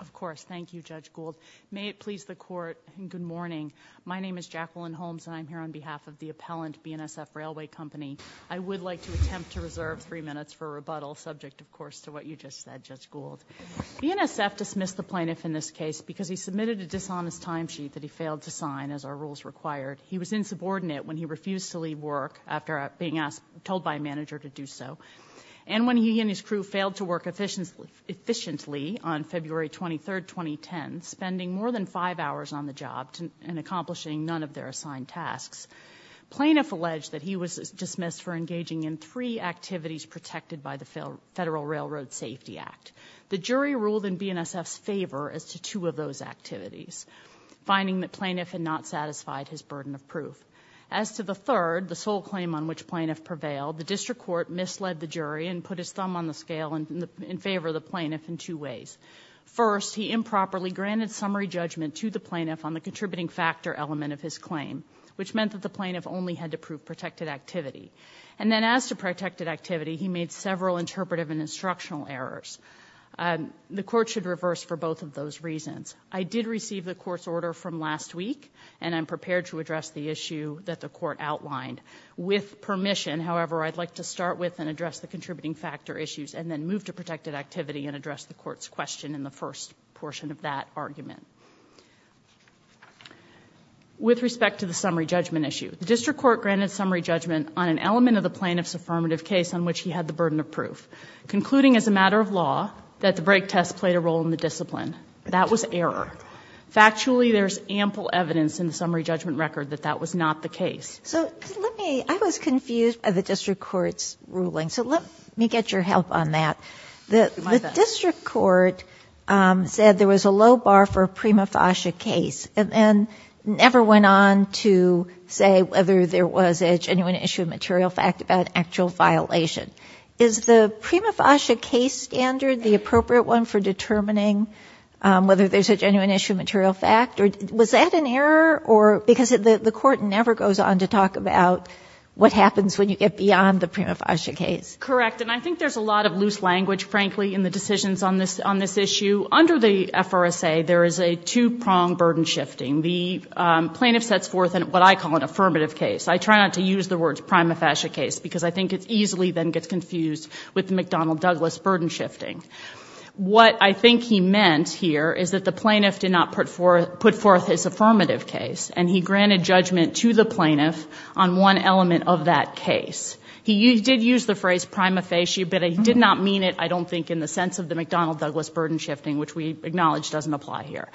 Of course, thank you Judge Gould. May it please the court, good morning. My name is Jacqueline Holmes and I'm here on behalf of the appellant BNSF Railway Company. I would like to attempt to reserve three minutes for rebuttal, subject of course to what you just said, Judge Gould. BNSF dismissed the plaintiff in this case because he submitted a dishonest timesheet that he failed to sign as are rules required. He was insubordinate when he refused to leave work after being told by a manager to do so. And when he and his crew failed to work efficiently on February 23rd, 2010, spending more than five hours on the job and accomplishing none of their assigned tasks. Plaintiff alleged that he was dismissed for engaging in three activities protected by the Federal Railroad Safety Act. The jury ruled in BNSF's favor as to two of those activities, finding the plaintiff had not satisfied his burden of proof. As to the third, the sole claim on which plaintiff prevailed, the district court misled the jury and put his thumb on the scale in favor of the plaintiff in two ways. First, he improperly granted summary judgment to the plaintiff on the contributing factor element of his claim, which meant that the plaintiff only had to prove protected activity. And then as to protected activity, he made several interpretive and instructional errors. The court should reverse for both of those reasons. I did receive the court's order from last week, and I'm prepared to address the issue that the court outlined. With permission, however, I'd like to start with and address the contributing factor issues, and then move to protected activity and address the court's question in the first portion of that argument. With respect to the summary judgment issue, the district court granted summary judgment on an element of the plaintiff's affirmative case on which he had the burden of proof. Concluding as a matter of law, that the break test played a role in the discipline. That was error. Factually, there's ample evidence in the summary judgment record that that was not the case. So, let me, I was confused by the district court's ruling. So let me get your help on that. The district court said there was a low bar for a prima facie case. And then never went on to say whether there was a genuine issue of material fact about actual violation. Is the prima facie case standard the appropriate one for determining whether there's a genuine issue of material fact? Or was that an error? Or, because the court never goes on to talk about what happens when you get beyond the prima facie case. Correct, and I think there's a lot of loose language, frankly, in the decisions on this issue. Under the FRSA, there is a two-pronged burden shifting. The plaintiff sets forth what I call an affirmative case. I try not to use the words prima facie case, because I think it easily then gets confused with the McDonnell-Douglas burden shifting. What I think he meant here is that the plaintiff did not put forth his affirmative case. And he granted judgment to the plaintiff on one element of that case. He did use the phrase prima facie, but he did not mean it, I don't think, in the sense of the McDonnell-Douglas burden shifting, which we acknowledge doesn't apply here.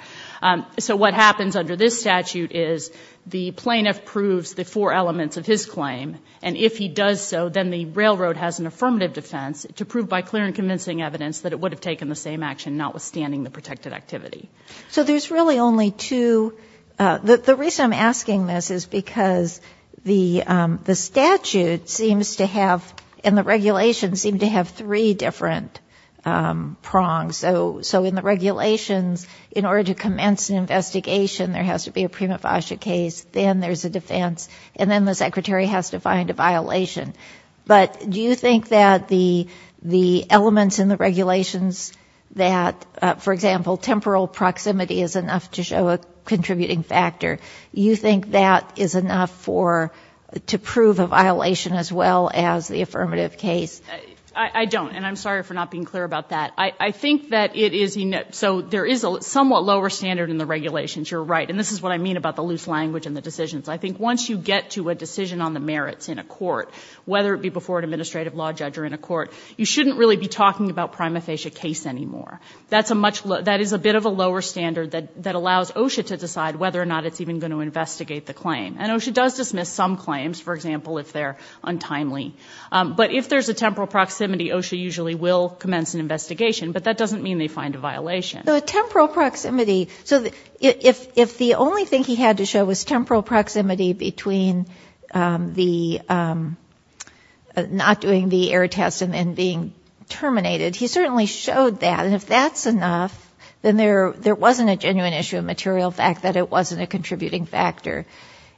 So what happens under this statute is the plaintiff proves the four elements of his claim. And if he does so, then the railroad has an affirmative defense to prove by clear and convincing evidence that it would have taken the same action, notwithstanding the protected activity. So there's really only two, the reason I'm asking this is because the statute seems to have, and the regulations seem to have three different prongs. So in the regulations, in order to commence an investigation, there has to be a prima facie case, then there's a defense, and then the secretary has to find a violation. But do you think that the elements in the regulations that, for example, temporal proximity is enough to show a contributing factor, you think that is enough to prove a violation as well as the affirmative case? I don't, and I'm sorry for not being clear about that. I think that it is, so there is a somewhat lower standard in the regulations, you're right. And this is what I mean about the loose language in the decisions. I think once you get to a decision on the merits in a court, whether it be before an administrative law judge or in a court, you shouldn't really be talking about prima facie case anymore. That is a bit of a lower standard that allows OSHA to decide whether or not it's even going to investigate the claim. And OSHA does dismiss some claims, for example, if they're untimely. But if there's a temporal proximity, OSHA usually will commence an investigation, but that doesn't mean they find a violation. So a temporal proximity, so if the only thing he had to show was temporal proximity between not doing the error test and then being terminated, he certainly showed that. And if that's enough, then there wasn't a genuine issue of material fact that it wasn't a contributing factor.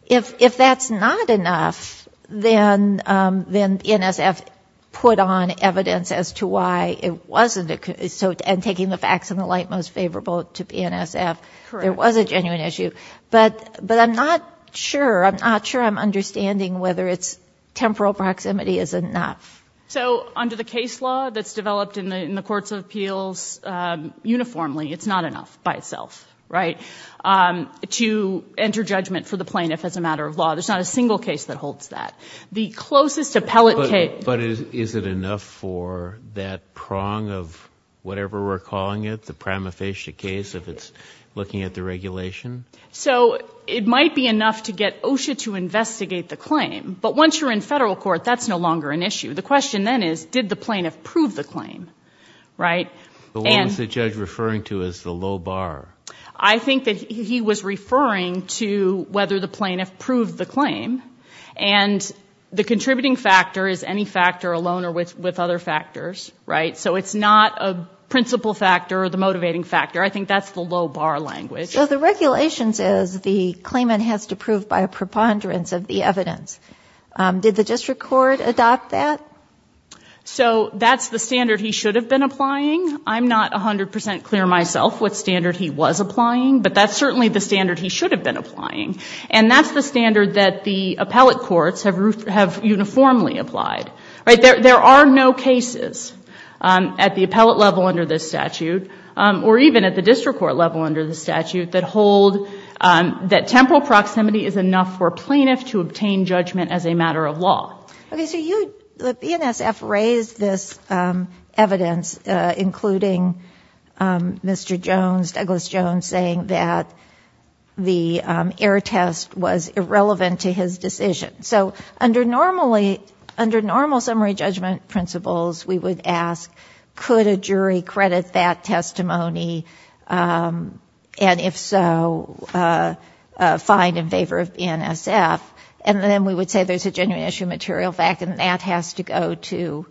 If that's not enough, then NSF put on evidence as to why it wasn't, so and taking the facts in the light most favorable to the NSF, there was a genuine issue. But I'm not sure, I'm not sure I'm understanding whether it's temporal proximity is enough. So under the case law that's developed in the courts of appeals uniformly, it's not enough by itself, right? To enter judgment for the plaintiff as a matter of law. There's not a single case that holds that. The closest appellate case- But is it enough for that prong of whatever we're calling it, the prima facie case if it's looking at the regulation? So it might be enough to get OSHA to investigate the claim. But once you're in federal court, that's no longer an issue. The question then is, did the plaintiff prove the claim, right? But what is the judge referring to as the low bar? I think that he was referring to whether the plaintiff proved the claim. And the contributing factor is any factor alone or with other factors, right? So it's not a principal factor or the motivating factor. I think that's the low bar language. So the regulations is the claimant has to prove by a preponderance of the evidence. Did the district court adopt that? So that's the standard he should have been applying. I'm not 100% clear myself what standard he was applying. But that's certainly the standard he should have been applying. And that's the standard that the appellate courts have uniformly applied, right? There are no cases at the appellate level under this statute or even at the district court level under the statute that hold that temporal proximity is enough for plaintiff to obtain judgment as a matter of law. Okay, so the BNSF raised this evidence, including Mr. Jones, Douglas Jones, saying that the air test was irrelevant to his decision. So under normal summary judgment principles, we would ask, could a jury credit that testimony? And if so, find in favor of BNSF. And then we would say there's a genuine issue material fact, and that has to go to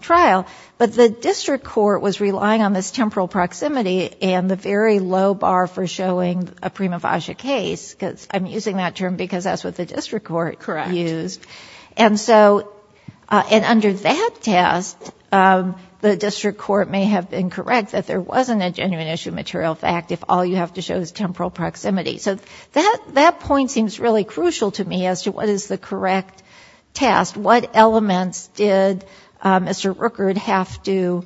trial. But the district court was relying on this temporal proximity and the very low bar for showing a prima facie case, because I'm using that term because that's what the district court used. And so, and under that test, the district court may have been correct that there wasn't a genuine issue material fact if all you have to show is temporal proximity. So that point seems really crucial to me as to what is the correct test. What elements did Mr. Rooker have to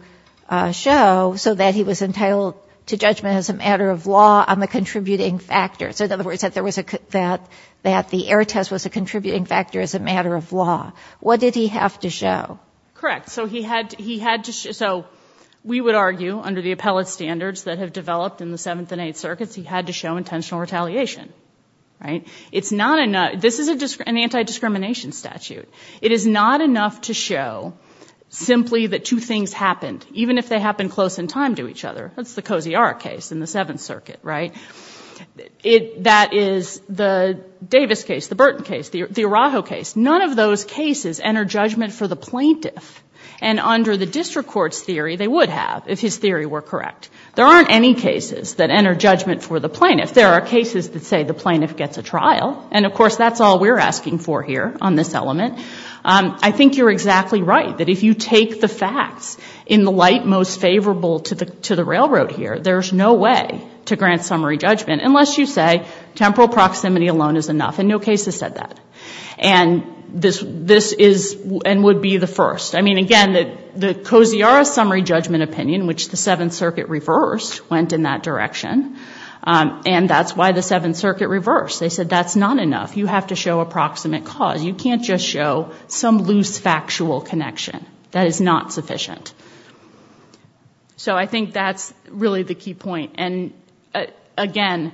show so that he was entitled to judgment as a matter of law on the contributing factors? In other words, that the air test was a contributing factor as a matter of law. What did he have to show? Correct, so we would argue under the appellate standards that have developed in the seventh and eighth circuit, there is not enough to show that there was retaliation, right? This is an anti-discrimination statute. It is not enough to show simply that two things happened even if they happened close in time to each other. That's the Coziart case in the seventh circuit, right? That is the Davis case, the Burton case, the Araujo case. None of those cases enter judgment for the plaintiff. And under the district court's theory, they would have if his theory were correct. There aren't any cases that enter judgment for the plaintiff. There are cases that say the plaintiff gets a trial, and of course, that's all we're asking for here on this element. I think you're exactly right, that if you take the facts in the light most favorable to the railroad here, there's no way to grant summary judgment unless you say temporal proximity alone is enough, and no case has said that. And this is and would be the first. I mean, again, the Coziart summary judgment opinion, which the Seventh Circuit reversed, went in that direction. And that's why the Seventh Circuit reversed. They said that's not enough. You have to show approximate cause. You can't just show some loose factual connection. That is not sufficient. So I think that's really the key point. And again,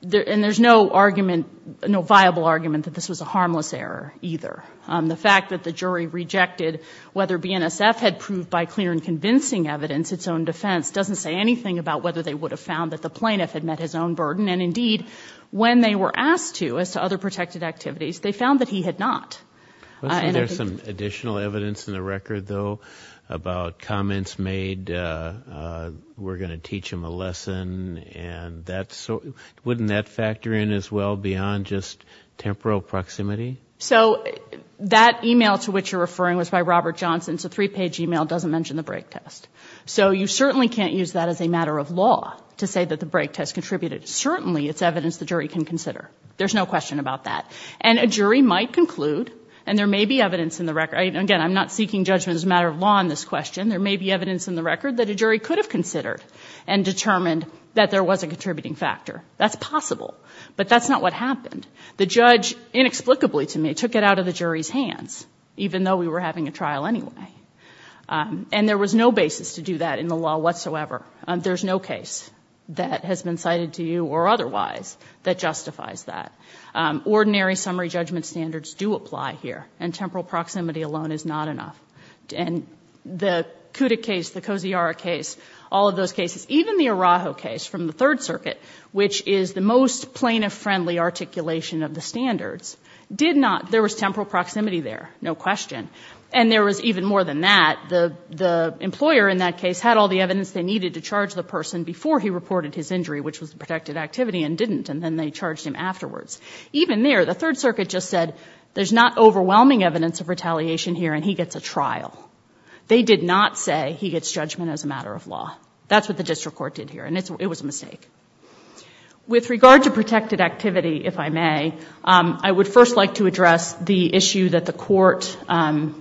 and there's no argument, no viable argument that this was a harmless error either. The fact that the jury rejected whether BNSF had proved by clear and convincing evidence its own defense, doesn't say anything about whether they would have found that the plaintiff had met his own burden. And indeed, when they were asked to as to other protected activities, they found that he had not. And I think- There's some additional evidence in the record, though, about comments made. We're going to teach him a lesson, and wouldn't that factor in as well beyond just temporal proximity? So that email to which you're referring was by Robert Johnson. It's a three-page email. It doesn't mention the break test. So you certainly can't use that as a matter of law to say that the break test contributed. Certainly, it's evidence the jury can consider. There's no question about that. And a jury might conclude, and there may be evidence in the record. Again, I'm not seeking judgment as a matter of law on this question. There may be evidence in the record that a jury could have considered and determined that there was a contributing factor. That's possible. But that's not what happened. The judge, inexplicably to me, took it out of the jury's hands, even though we were having a trial anyway. And there was no basis to do that in the law whatsoever. There's no case that has been cited to you or otherwise that justifies that. Ordinary summary judgment standards do apply here, and temporal proximity alone is not enough. And the Kuda case, the Kosiara case, all of those cases, even the Araujo case from the Third Circuit, which is the most plaintiff-friendly articulation of the standards, there was temporal proximity there, no question. And there was even more than that. The employer in that case had all the evidence they needed to charge the person before he reported his injury, which was a protected activity, and didn't, and then they charged him afterwards. Even there, the Third Circuit just said, there's not overwhelming evidence of retaliation here, and he gets a trial. They did not say he gets judgment as a matter of law. That's what the district court did here, and it was a mistake. With regard to protected activity, if I may, I would first like to address the issue that the court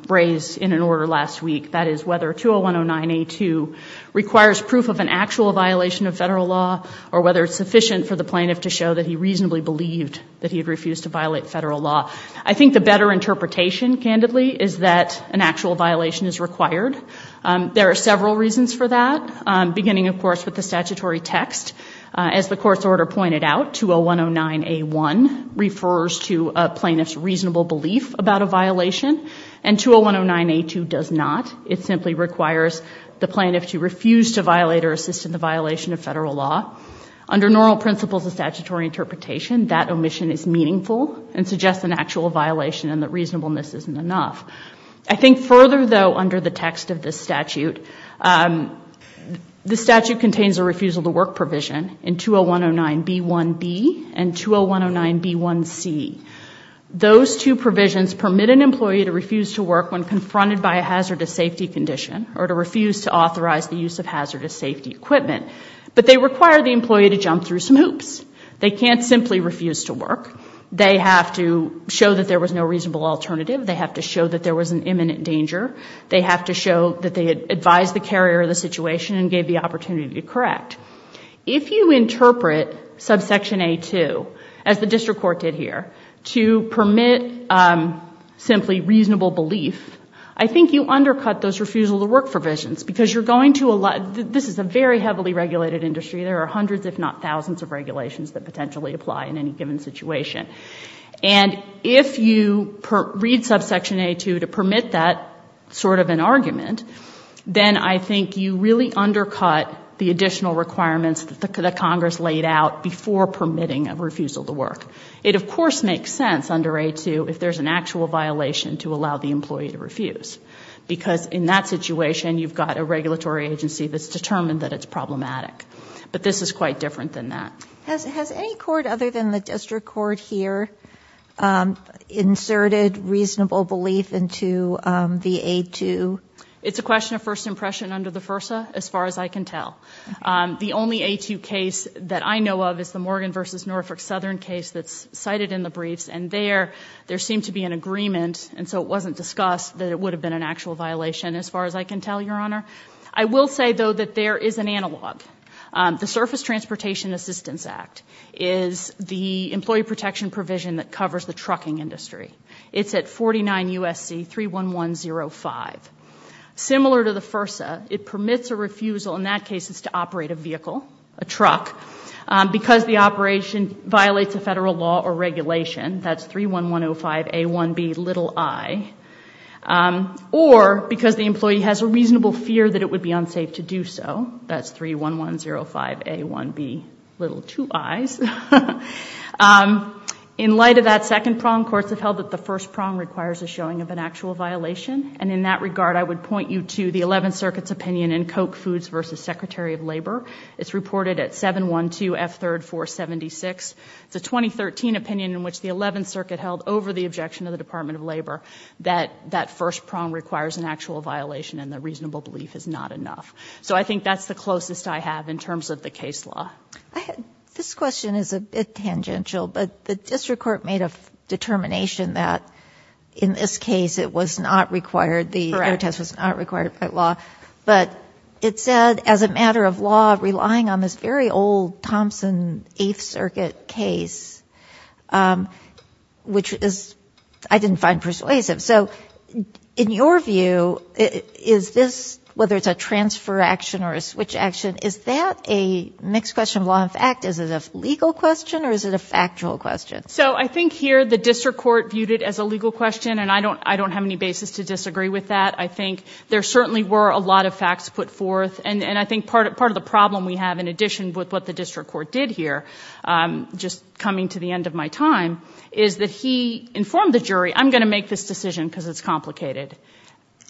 raised in an order last week. That is whether 20109A2 requires proof of an actual violation of federal law, or whether it's sufficient for the plaintiff to show that he reasonably believed that he had refused to violate federal law. I think the better interpretation, candidly, is that an actual violation is required. There are several reasons for that, beginning, of course, with the statutory text. As the court's order pointed out, 20109A1 refers to a plaintiff's reasonable belief about a violation, and 20109A2 does not. It simply requires the plaintiff to refuse to violate or assist in the violation of federal law. Under normal principles of statutory interpretation, that omission is meaningful and suggests an actual violation and that reasonableness isn't enough. I think further, though, under the text of this statute, this statute contains a refusal to work provision in 20109B1B and 20109B1C. Those two provisions permit an employee to refuse to work when confronted by a hazardous safety condition or to refuse to authorize the use of hazardous safety equipment, but they require the employee to jump through some hoops. They can't simply refuse to work. They have to show that there was no reasonable alternative. They have to show that there was an imminent danger. They have to show that they advised the carrier of the situation and gave the opportunity to correct. If you interpret subsection A2, as the district court did here, to permit simply reasonable belief, I think you undercut those refusal to work provisions because you're going to, this is a very heavily regulated industry. There are hundreds, if not thousands, of regulations that potentially apply in any given situation. And if you read subsection A2 to permit that sort of an argument, then I think you really undercut the additional requirements that Congress laid out before permitting a refusal to work. It of course makes sense under A2 if there's an actual violation to allow the employee to refuse. Because in that situation, you've got a regulatory agency that's determined that it's problematic. But this is quite different than that. Has any court other than the district court here inserted reasonable belief into the A2? It's a question of first impression under the FERSA, as far as I can tell. The only A2 case that I know of is the Morgan versus Norfolk Southern case that's cited in the briefs. And there, there seemed to be an agreement, and so it wasn't discussed, that it would have been an actual violation, as far as I can tell, Your Honor. I will say, though, that there is an analog. The Surface Transportation Assistance Act is the employee protection provision that covers the trucking industry. It's at 49 USC 31105. Similar to the FERSA, it permits a refusal, in that case, it's to operate a vehicle, a truck, because the operation violates a federal law or regulation, that's 31105 A1B i. Or because the employee has a reasonable fear that it would be unsafe to do so, that's 31105 A1B, little two I's. In light of that second prong, courts have held that the first prong requires a showing of an actual violation. And in that regard, I would point you to the 11th Circuit's opinion in Coke Foods versus Secretary of Labor. It's reported at 712F3476. It's a 2013 opinion in which the 11th Circuit held over the objection of the Department of Labor that that first prong requires an actual violation and the reasonable belief is not enough. So I think that's the closest I have in terms of the case law. This question is a bit tangential, but the district court made a determination that in this case it was not required, the test was not required by law. But it said, as a matter of law, relying on this very old Thompson 8th Circuit case, which I didn't find persuasive. So in your view, is this, whether it's a transfer action or a switch action, is that a mixed question of law and fact? Is it a legal question or is it a factual question? So I think here the district court viewed it as a legal question, and I don't have any basis to disagree with that. I think there certainly were a lot of facts put forth, and I think part of the problem we have, in addition with what the district court did here, just coming to the end of my time, is that he informed the jury, I'm going to make this decision because it's complicated.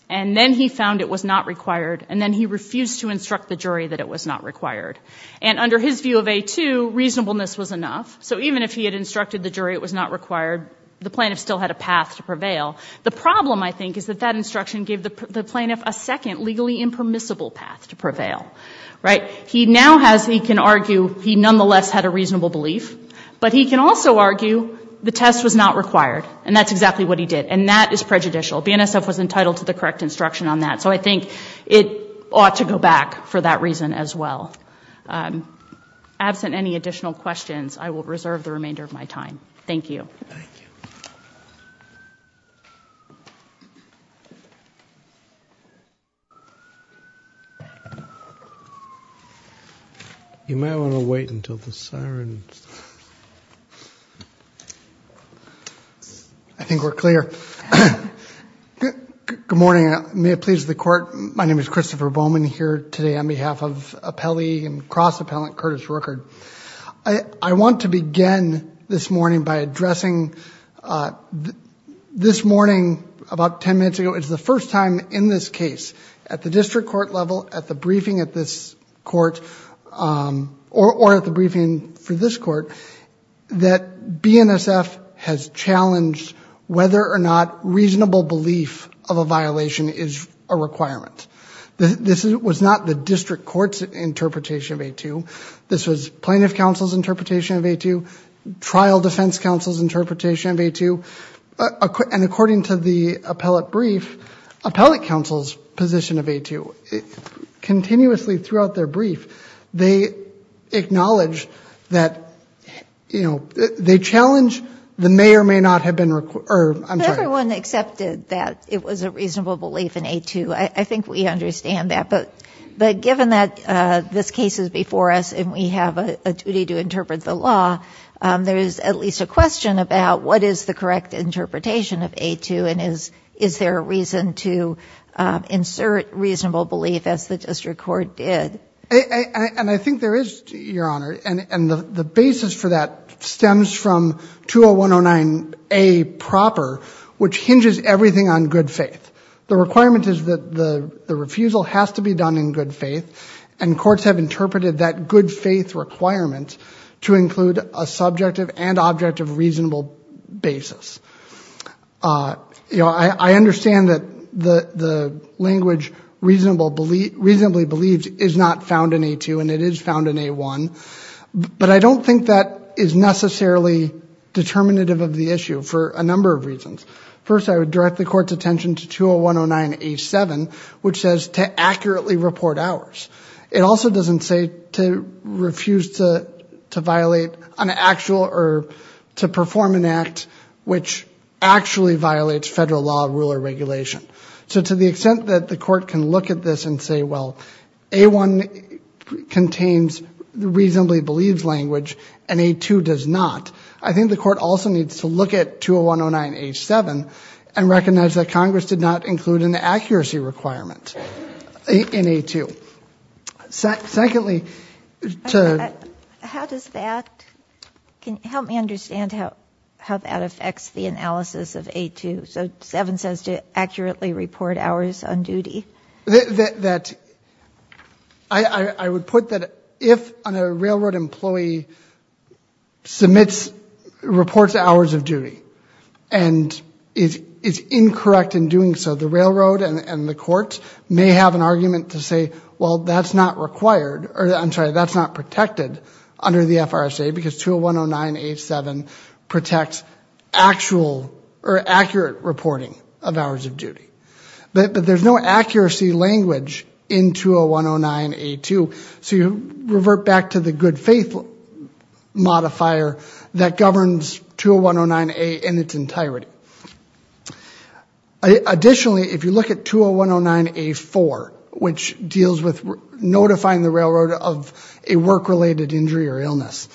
And then he found it was not required, and then he refused to instruct the jury that it was not required. And under his view of A2, reasonableness was enough. So even if he had instructed the jury it was not required, the plaintiff still had a path to prevail. The problem, I think, is that that instruction gave the plaintiff a second legally impermissible path to prevail, right? He now has, he can argue, he nonetheless had a reasonable belief. But he can also argue the test was not required, and that's exactly what he did. And that is prejudicial. BNSF was entitled to the correct instruction on that. So I think it ought to go back for that reason as well. Absent any additional questions, I will reserve the remainder of my time. Thank you. You may want to wait until the siren stops. I think we're clear. Good morning, may it please the court. My name is Christopher Bowman, here today on behalf of appellee and cross-appellant Curtis Rueckert. I want to begin this morning by addressing, this morning, about 10 minutes ago, it's the first time in this case, at the district court level, at the briefing at this court, or at the briefing for this court, that BNSF has challenged whether or not reasonable belief of a violation is a requirement. This was not the district court's interpretation of A2. This was plaintiff counsel's interpretation of A2, trial defense counsel's interpretation of A2, and according to the appellate brief, appellate counsel's position of A2. Continuously throughout their brief, they acknowledge that, you know, they challenge the may or may not have been, or I'm sorry. If everyone accepted that it was a reasonable belief in A2, I think we understand that. But given that this case is before us, and we have a duty to interpret the law, there is at least a question about what is the correct interpretation of A2, and is there a reason to insert reasonable belief as the district court did? And I think there is, your honor, and the basis for that stems from 20109A proper, which hinges everything on good faith. The requirement is that the refusal has to be done in good faith, and courts have interpreted that good faith requirement to include a subjective and objective reasonable basis. You know, I understand that the language reasonably believes is not found in A2, and it is found in A1, but I don't think that is necessarily determinative of the issue for a number of reasons. First, I would direct the court's attention to 20109A7, which says to accurately report hours. It also doesn't say to refuse to violate an actual, or to perform an act which actually violates federal law, rule, or regulation. So to the extent that the court can look at this and say, well, A1 contains reasonably believes language, and A2 does not, I think the court also needs to look at 20109A7 and recognize that Congress did not include an accuracy requirement in A2. Secondly, to- How does that, can you help me understand how that affects the analysis of A2? So seven says to accurately report hours on duty. That, I would put that if a railroad employee submits, reports hours of duty, and is incorrect in doing so, the railroad and the court may have an argument to say, well, that's not required, or I'm sorry, that's not protected under the FRSA because 20109A7 protects actual or accurate reporting of hours of duty. But there's no accuracy language in 20109A2, so you revert back to the good faith modifier that governs 20109A in its entirety. Additionally, if you look at 20109A4, which deals with notifying the railroad of a work-related injury or illness,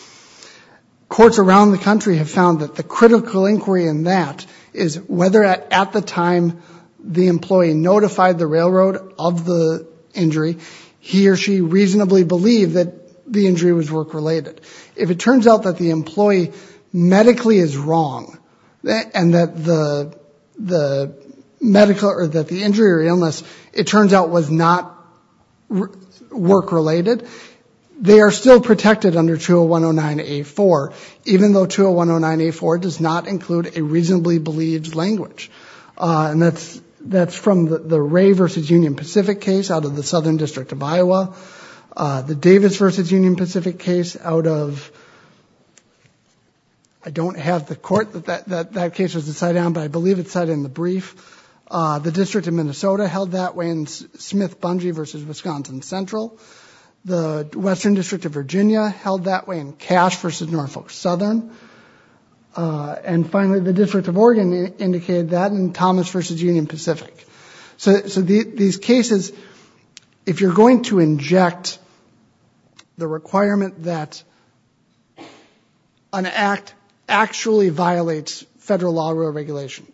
courts around the country have found that the critical inquiry in that is whether at the time the employee notified the railroad of the injury, he or she reasonably believed that the injury was work-related. If it turns out that the employee medically is wrong, and that the medical, or that the injury or illness, it turns out was not work-related, they are still protected under 20109A4, even though 20109A4 does not include a reasonably believed language. And that's from the Ray v. Union Pacific case out of the Southern District of Iowa, the Davis v. Union Pacific case out of, I don't have the court that that case was decided on, but I believe it's cited in the brief, the District of Minnesota held that way in Smith-Bungee v. Wisconsin Central, the Western District of Virginia held that way in Cash v. Norfolk Southern, and finally the District of Oregon indicated that in Thomas v. Union Pacific. So these cases, if you're going to inject the requirement that an act actually violates federal law or regulation,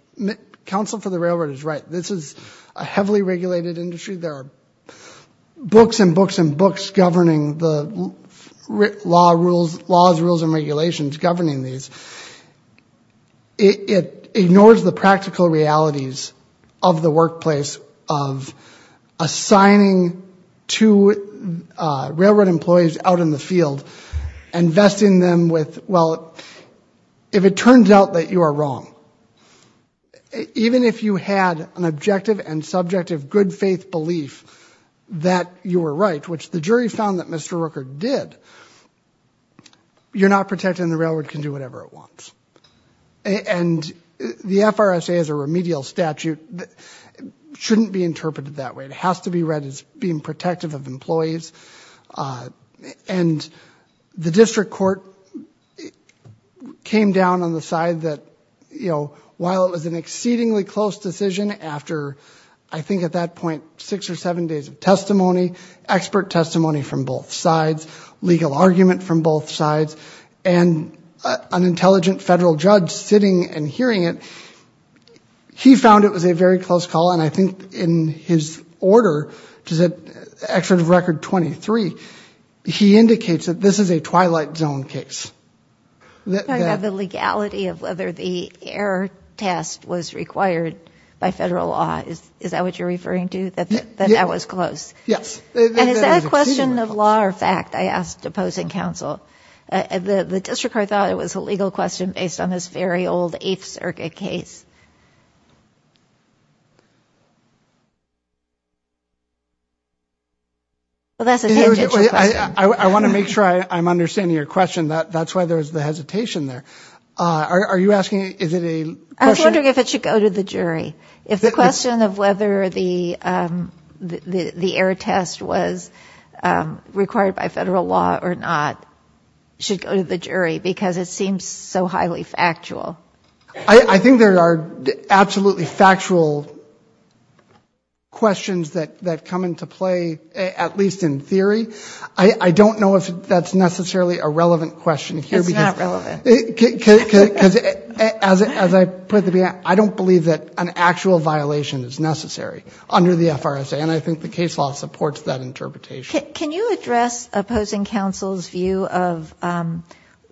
Counsel for the Railroad is right. This is a heavily regulated industry. There are books and books and books governing the laws, rules, and regulations governing these. It ignores the practical realities of the workplace of assigning to railroad employees out in the field and vesting them with, well, if it turns out that you are wrong, even if you had an objective and subjective good-faith belief that you were right, which the jury found that Mr. Rooker did, you're not protected and the railroad can do whatever it wants. And the FRSA as a remedial statute shouldn't be interpreted that way. It has to be read as being protective of employees. And the district court came down on the side that, you know, while it was an exceedingly close decision after, I mean, seven days of testimony, expert testimony from both sides, legal argument from both sides, and an intelligent federal judge sitting and hearing it, he found it was a very close call. And I think in his order, which is at Excerpt of Record 23, he indicates that this is a twilight zone case. I'm talking about the legality of whether the error test was required by federal law. Is that what you're referring to? That that was close? Yes. And is that a question of law or fact? I asked opposing counsel. The district court thought it was a legal question based on this very old Eighth Circuit case. Well, that's a tangential question. I want to make sure I'm understanding your question. That's why there was the hesitation there. Are you asking, is it a... I was wondering if it should go to the jury. If the question of whether the error test was required by federal law or not should go to the jury, because it seems so highly factual. I think there are absolutely factual questions that that come into play, at least in theory. I don't know if that's necessarily a relevant question here. It's not relevant. As I put it at the beginning, I don't believe that an actual violation is necessary under the FRSA, and I think the case law supports that interpretation. Can you address opposing counsel's view of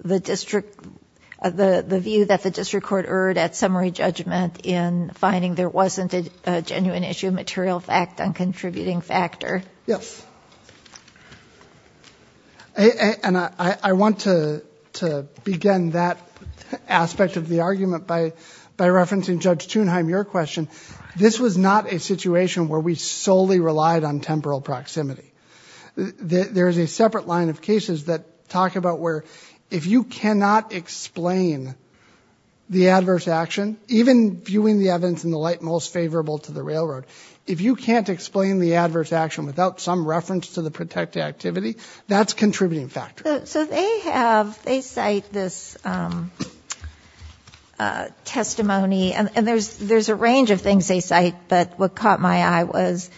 the district, the view that the district court erred at summary judgment in finding there wasn't a genuine issue of material fact and contributing factor? Yes. I want to begin that aspect of the argument by referencing Judge Thunheim, your question. This was not a situation where we solely relied on temporal proximity. There is a separate line of cases that talk about where if you cannot explain the adverse action, even viewing the evidence in the light most favorable to the railroad, if you can't explain the adverse action without some detective activity, that's a contributing factor. So they have, they cite this testimony, and there's a range of things they cite, but what caught my eye was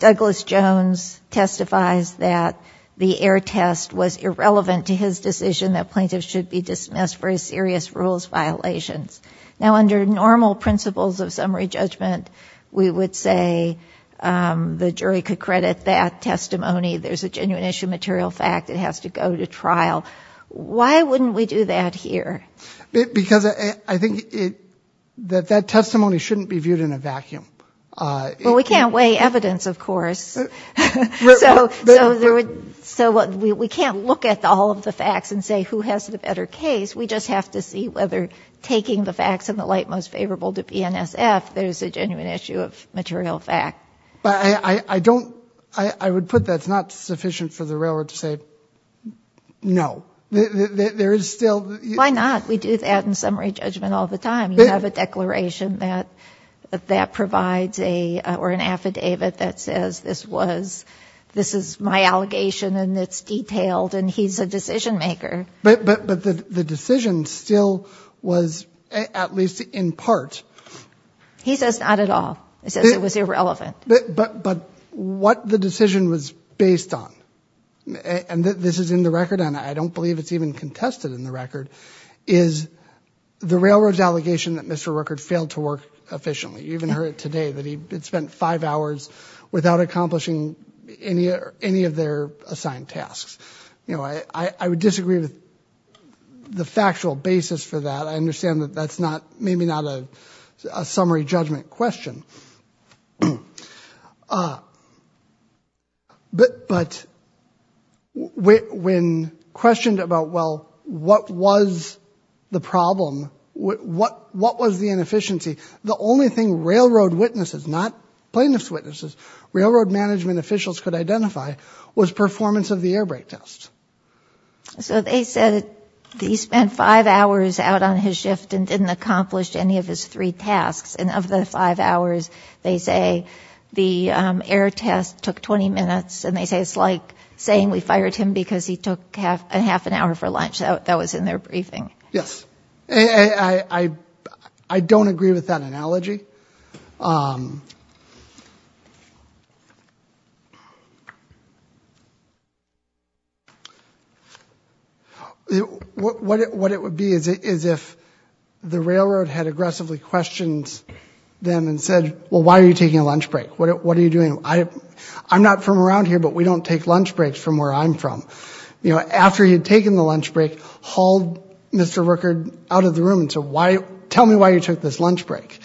Douglas Jones testifies that the error test was irrelevant to his decision that plaintiffs should be dismissed for serious rules violations. Now under normal principles of summary judgment, we would say the jury could credit that testimony. There's a genuine issue of material fact. It has to go to trial. Why wouldn't we do that here? Because I think that that testimony shouldn't be viewed in a vacuum. Well, we can't weigh evidence, of course. So we can't look at all of the facts and say who has the better case. We just have to see whether taking the facts in the light most favorable to BNSF, there's a genuine issue of material fact. But I don't, I would put that's not sufficient for the railroad to say no. There is still... Why not? We do that in summary judgment all the time. You have a declaration that that provides a, or an affidavit that says this was, this is my allegation, and it's detailed, and he's a decision maker. But the decision still was, at least in part, he says not at all. He says it was irrelevant. But what the decision was based on, and this is in the record, and I don't believe it's even contested in the record, is the railroad's allegation that Mr. Rueckert failed to work efficiently. You even heard it today, that he spent five hours without accomplishing any of their assigned tasks. You know, I would disagree with the factual basis for that. I understand that that's not, maybe not a summary judgment question. But when questioned about, well, what was the problem? What was the inefficiency? The only thing railroad witnesses, not plaintiff's witnesses, railroad management officials could identify was performance of the airbrake test. So they said that he spent five hours out on his shift and didn't accomplish any of his three tasks, and of the five hours, they say the air test took 20 minutes, and they say it's like saying we fired him because he took half an hour for lunch that was in their briefing. Yes. don't agree with that analogy. What it would be is if the railroad had aggressively questioned them and said, well, why are you taking a lunch break? What are you doing? I'm not from around here, but we don't take lunch breaks from where I'm from. You know, after he had taken the lunch break, hauled Mr. Rueckert out of the room and said, tell me why you took this lunch break.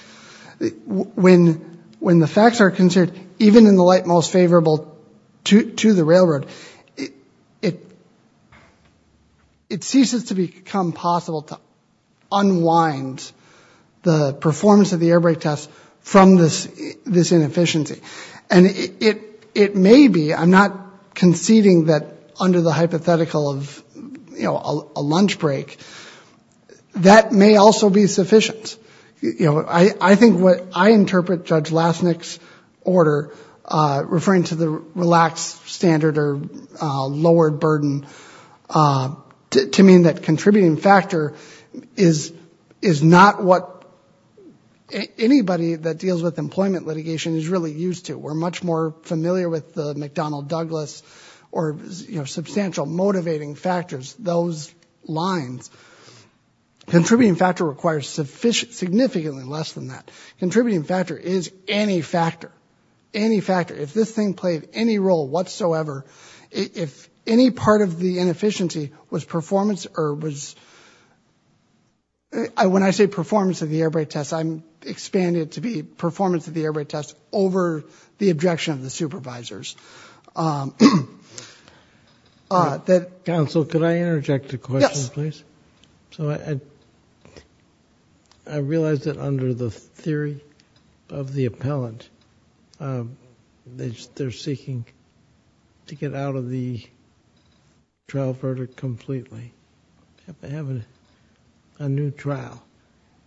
When the facts are considered, even in the light most favorable to the railroad, it ceases to become possible to unwind the performance of the airbrake test from this this inefficiency, and it may be, I'm not conceding that under the hypothetical of, you know, a lunch break, that may also be sufficient. You know, I think what I interpret Judge Lassnick's order referring to the relaxed standard or lowered burden to mean that contributing factor is is not what anybody that deals with employment litigation is really used to. We're much more familiar with the McDonnell-Douglas or you know, substantial motivating factors, those lines. Contributing factor requires significantly less than that. Contributing factor is any factor, any factor. If this thing played any role whatsoever, if any part of the inefficiency was performance or was, when I say performance of the airbrake test, I'm expanding it to be performance of the airbrake test over the objection of the supervisors. Counsel, could I interject a question, please? I realize that under the theory of the appellant, they're seeking to get out of the trial verdict completely. They have a new trial,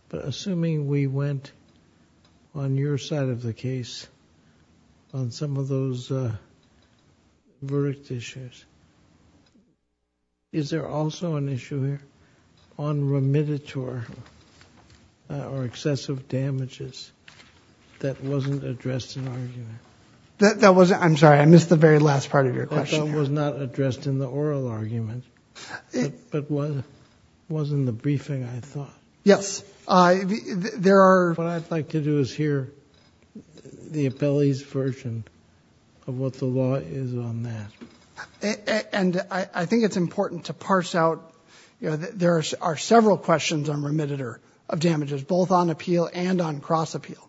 but assuming we went on your side of the case on some of those verdict issues, is there also an issue here on remediator? Or excessive damages that wasn't addressed in the argument? That wasn't, I'm sorry, I missed the very last part of your question. That was not addressed in the oral argument, but it was in the briefing, I thought. Yes, there are. What I'd like to do is hear the appellee's version of what the law is on that. And I think it's important to parse out, you know, there are several questions on remediator of damages, both on appeal and on cross-appeal.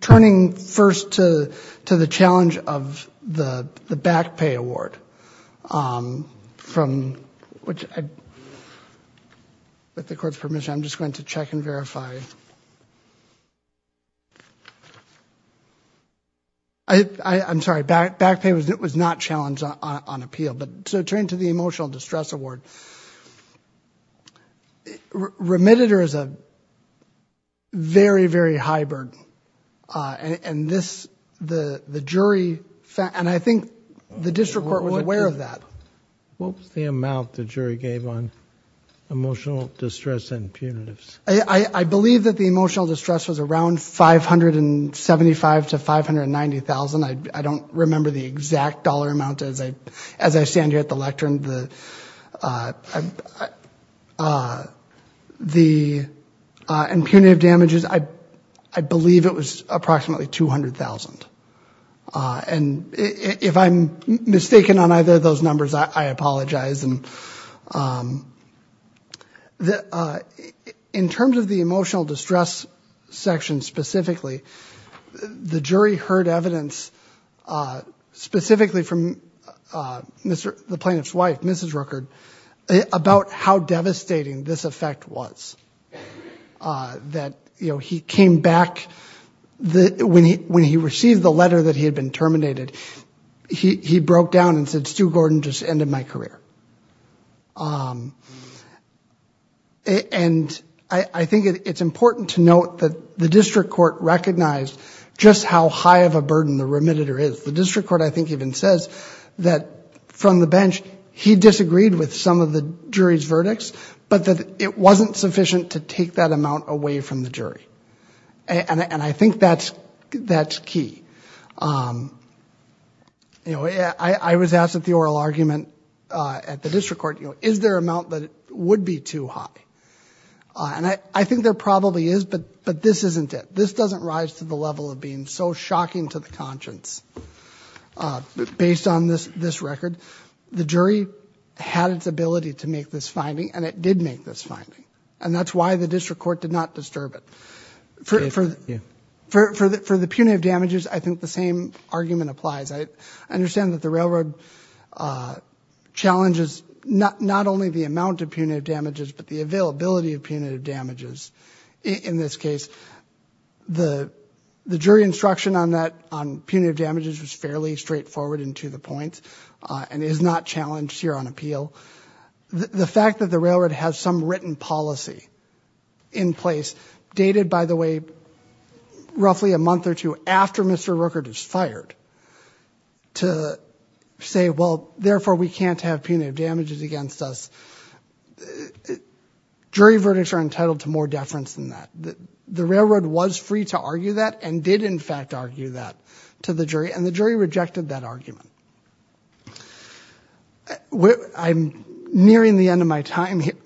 Turning first to the challenge of the back pay award, from which I, with the court's permission, I'm just going to check and verify. I I'm sorry, back pay was not challenged on appeal, but so turning to the emotional distress award, remediator is a very, very hybrid. And this, the jury, and I think the district court was aware of that. What was the amount the jury gave on emotional distress and punitives? I believe that the emotional distress was around 575 to 590,000. I don't remember the exact dollar amount as I stand here at the lectern. The impunitive damages, I believe it was approximately 200,000. And if I'm mistaken on either of those numbers, I apologize and in terms of the emotional distress section specifically, the jury heard evidence specifically from the plaintiff's wife, Mrs. Rueckert, about how devastating this effect was. That, you know, he came back when he received the letter that he had been terminated, he broke down and said, Stu Gordon just ended my career. And I think it's important to note that the district court recognized just how high of a burden the remediator is. The district court, I think, even says that from the bench he disagreed with some of the jury's verdicts, but that it wasn't sufficient to take that amount away from the jury. And I think that's key. You know, I was asked at the oral argument at the district court, you know, is there amount that would be too high? And I think there probably is, but this isn't it. This doesn't rise to the level of being so shocking to the conscience. Based on this record, the jury had its ability to make this finding and it did make this finding and that's why the district court did not disturb it. For the punitive damages, I think the same argument applies. I understand that the railroad challenges not only the amount of punitive damages, but the availability of punitive damages in this case. The jury instruction on that, on punitive damages, was fairly straightforward and to the point and is not challenged here on appeal. The fact that the railroad has some written policy in place, dated by the way, roughly a month or two after Mr. Rookert is fired, to say, well, therefore we can't have punitive damages against us. Jury verdicts are entitled to more deference than that. The railroad was free to argue that and did in fact argue that to the jury and the jury rejected that argument. I'm nearing the end of my time here,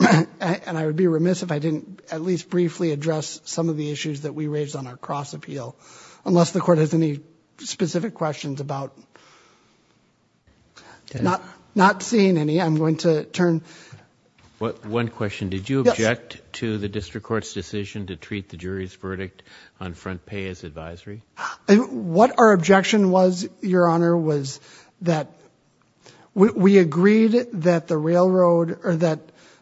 and I would be remiss if I didn't at least briefly address some of the issues that we raised on our cross-appeal unless the court has any specific questions about... Not seeing any, I'm going to turn... One question. Did you object to the district court's decision to treat the jury's verdict on front pay as advisory? What our objection was, Your Honor, was that we agreed that the railroad or that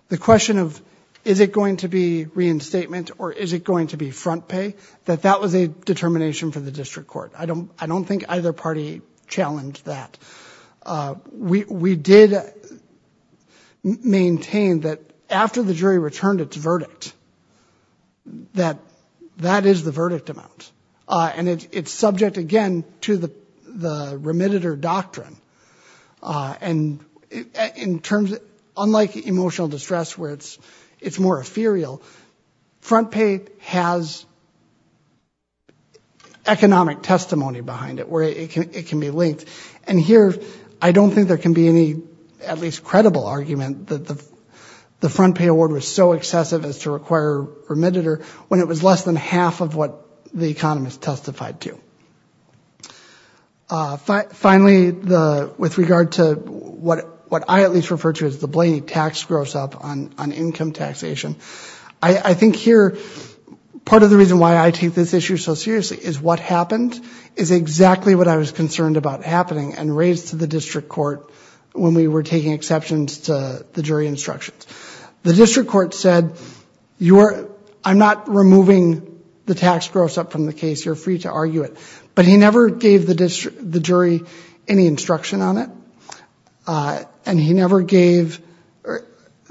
the question of is it going to be reinstatement or is it going to be front pay, that that was a determination for the district court. I don't think either party challenged that. We did maintain that after the jury returned its verdict, that that is the verdict amount, and it's subject again to the remitted or doctrine. And in terms, unlike emotional distress where it's more ethereal, front pay has economic testimony behind it where it can be linked. And here, I don't think there can be any at least credible argument that the district court has to require remitted or when it was less than half of what the economist testified to. Finally, with regard to what I at least refer to as the Blaney tax gross-up on income taxation, I think here part of the reason why I take this issue so seriously is what happened is exactly what I was concerned about happening and raised to the district court when we were taking exceptions to the jury instructions. The district court said, I'm not removing the tax gross-up from the case. You're free to argue it, but he never gave the jury any instruction on it. And he never gave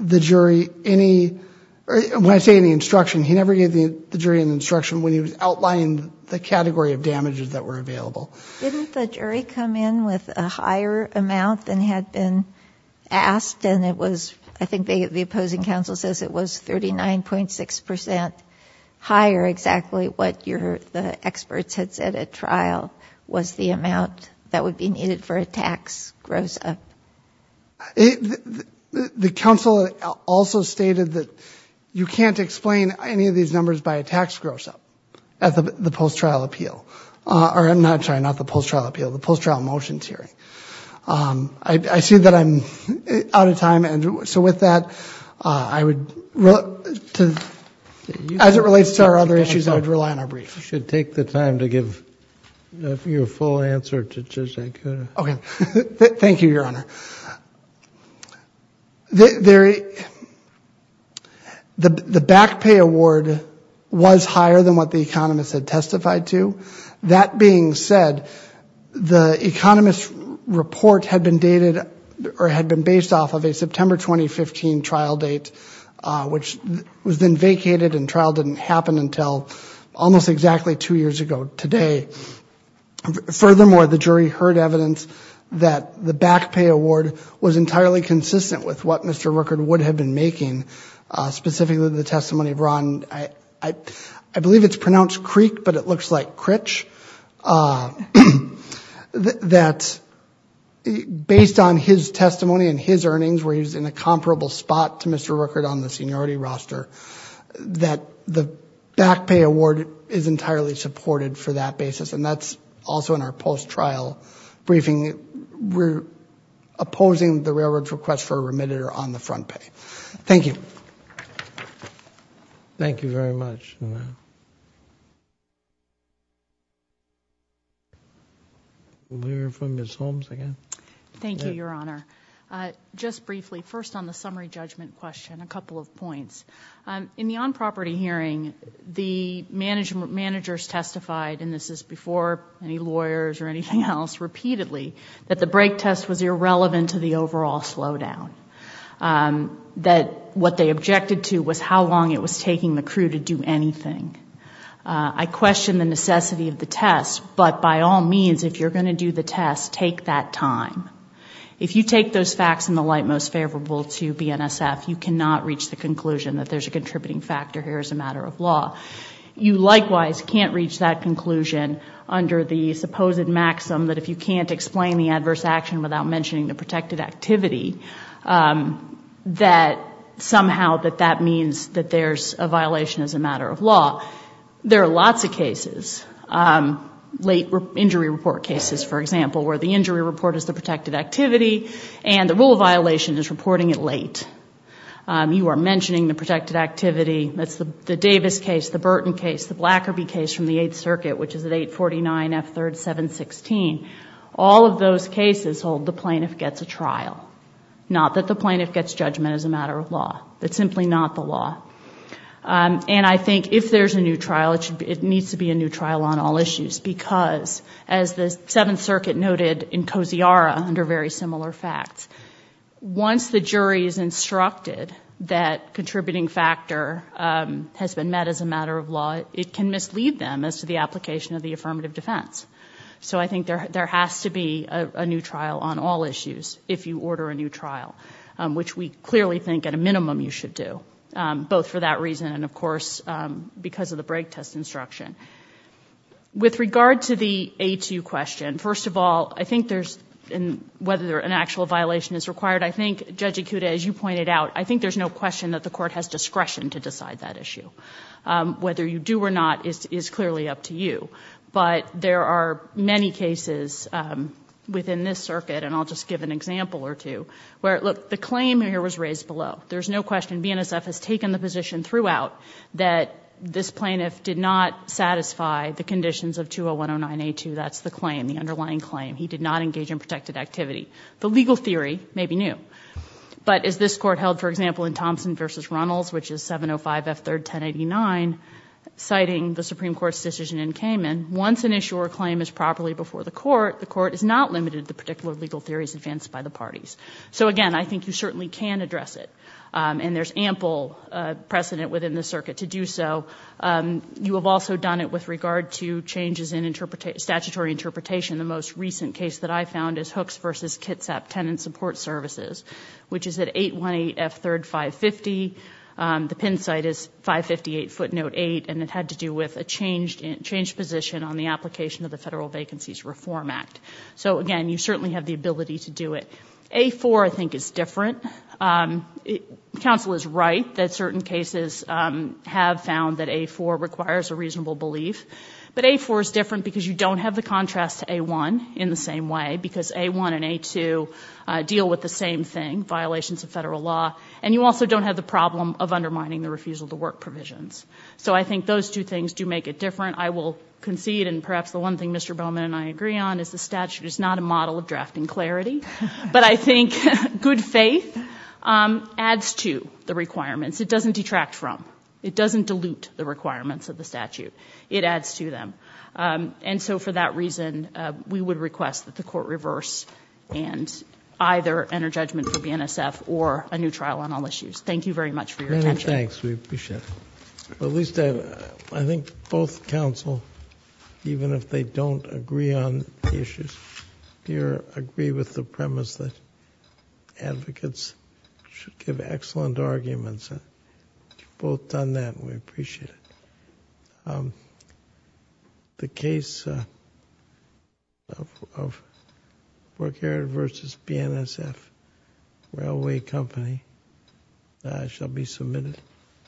the jury any, when I say any instruction, he never gave the jury an instruction when he was outlining the category of damages that were available. Didn't the jury come in with a higher amount than had been asked? And it was, I think the opposing counsel says it was 39.6% higher exactly what the experts had said at trial was the amount that would be needed for a tax gross-up. The counsel also stated that you can't explain any of these numbers by a tax gross-up at the post trial appeal. Or I'm not trying, not the post trial appeal, the post trial motions hearing. I see that I'm out of time. And so with that I would, as it relates to our other issues, I would rely on our brief. You should take the time to give your full answer to Judge Acuda. Okay. Thank you, Your Honor. The, the back pay award was higher than what the economists had testified to. That being said, the economist's report had been dated or had been based off of a September 2015 trial date, which was then vacated and trial didn't happen until almost exactly two years ago today. Furthermore, the jury heard evidence that the back pay award was entirely consistent with what Mr. Rueckert would have been making, specifically the testimony of Ron, I, I believe it's pronounced Creek, but it looks like Critch. That, based on his testimony and his earnings, where he's in a comparable spot to Mr. Rueckert on the seniority roster, that the back pay award is entirely supported for that basis. And that's also in our post trial briefing. We're opposing the railroad's request for a remitter on the front pay. Thank you. Thank you very much, Your Honor. We'll hear from Ms. Holmes again. Thank you, Your Honor. Just briefly, first on the summary judgment question, a couple of points. In the on-property hearing, the management, managers testified, and this is before any lawyers or anything else, repeatedly, that the break test was irrelevant to the overall slowdown. That what they objected to was how long it was taking the crew to do anything. I question the necessity of the test, but by all means, if you're going to do the test, take that time. If you take those facts in the light most favorable to BNSF, you cannot reach the conclusion that there's a contributing factor here as a matter of law. You likewise can't reach that conclusion under the supposed maxim that if you can't explain the adverse action without mentioning the protected activity, that somehow that that means that there's a violation as a matter of law. There are lots of cases, late injury report cases, for example, where the injury report is the protected activity and the rule of violation is reporting it late. You are mentioning the protected activity. That's the Davis case, the Burton case, the Blackerby case from the Eighth Circuit, which is at 849 F. 3rd 716. All of those cases hold the plaintiff gets a trial. Not that the plaintiff gets judgment as a matter of law. That's simply not the law. And I think if there's a new trial, it needs to be a new trial on all issues because as the Seventh Circuit noted in Kosiora under very similar facts, once the jury is instructed that contributing factor has been met as a matter of law, it can mislead them as to the application of the affirmative defense. So I think there has to be a new trial on all issues if you order a new trial, which we clearly think at a minimum you should do, both for that reason and of course because of the break test instruction. With regard to the A2 question, first of all, I think there's, whether an actual violation is required, I think Judge Ikuda, as you pointed out, I think there's no question that the court has discretion to decide that issue. Whether you do or not is clearly up to you, but there are many cases within this circuit, and I'll just give an example or two, where, look, the claim here was raised below. There's no question BNSF has taken the position throughout that this plaintiff did not satisfy the conditions of 201-109-A2. That's the claim, the underlying claim. He did not engage in protected activity. The legal theory may be new. But as this court held, for example, in Thompson v. Runnels, which is 705-F3-1089, citing the Supreme Court's decision in Cayman, once an issue or claim is properly before the court, the court is not limited to particular legal theories advanced by the parties. So again, I think you certainly can address it, and there's ample precedent within the circuit to do so. You have also done it with regard to changes in statutory interpretation. The most recent case that I found is Hooks v. Kitsap Tenant Support Services, which is at 818-F3-550. The pin site is 558 Footnote 8, and it had to do with a changed position on the application of the Federal Vacancies Reform Act. So again, you certainly have the ability to do it. A-4, I think, is different. Counsel is right that certain cases have found that A-4 requires a reasonable belief. But A-4 is different because you don't have the contrast to A-1 in the same way, because A-1 and A-2 deal with the same thing, violations of federal law, and you also don't have the problem of undermining the refusal to work provisions. So I think those two things do make it different. I will concede, and perhaps the one thing Mr. Bowman and I agree on is the statute is not a model of drafting clarity, but I think good faith adds to the requirements. It doesn't detract from. It doesn't dilute the requirements of the statute. It adds to them. And so for that reason, we would request that the court reverse and either enter judgment for BNSF or a new trial on all issues. Thank you very much for your attention. Many thanks. We appreciate it. At least, I think both counsel, even if they don't agree on the issues here, agree with the premise that advocates should give excellent arguments, and you've both done that, and we appreciate it. The case of Borghera v. BNSF, Railway Company, shall be submitted.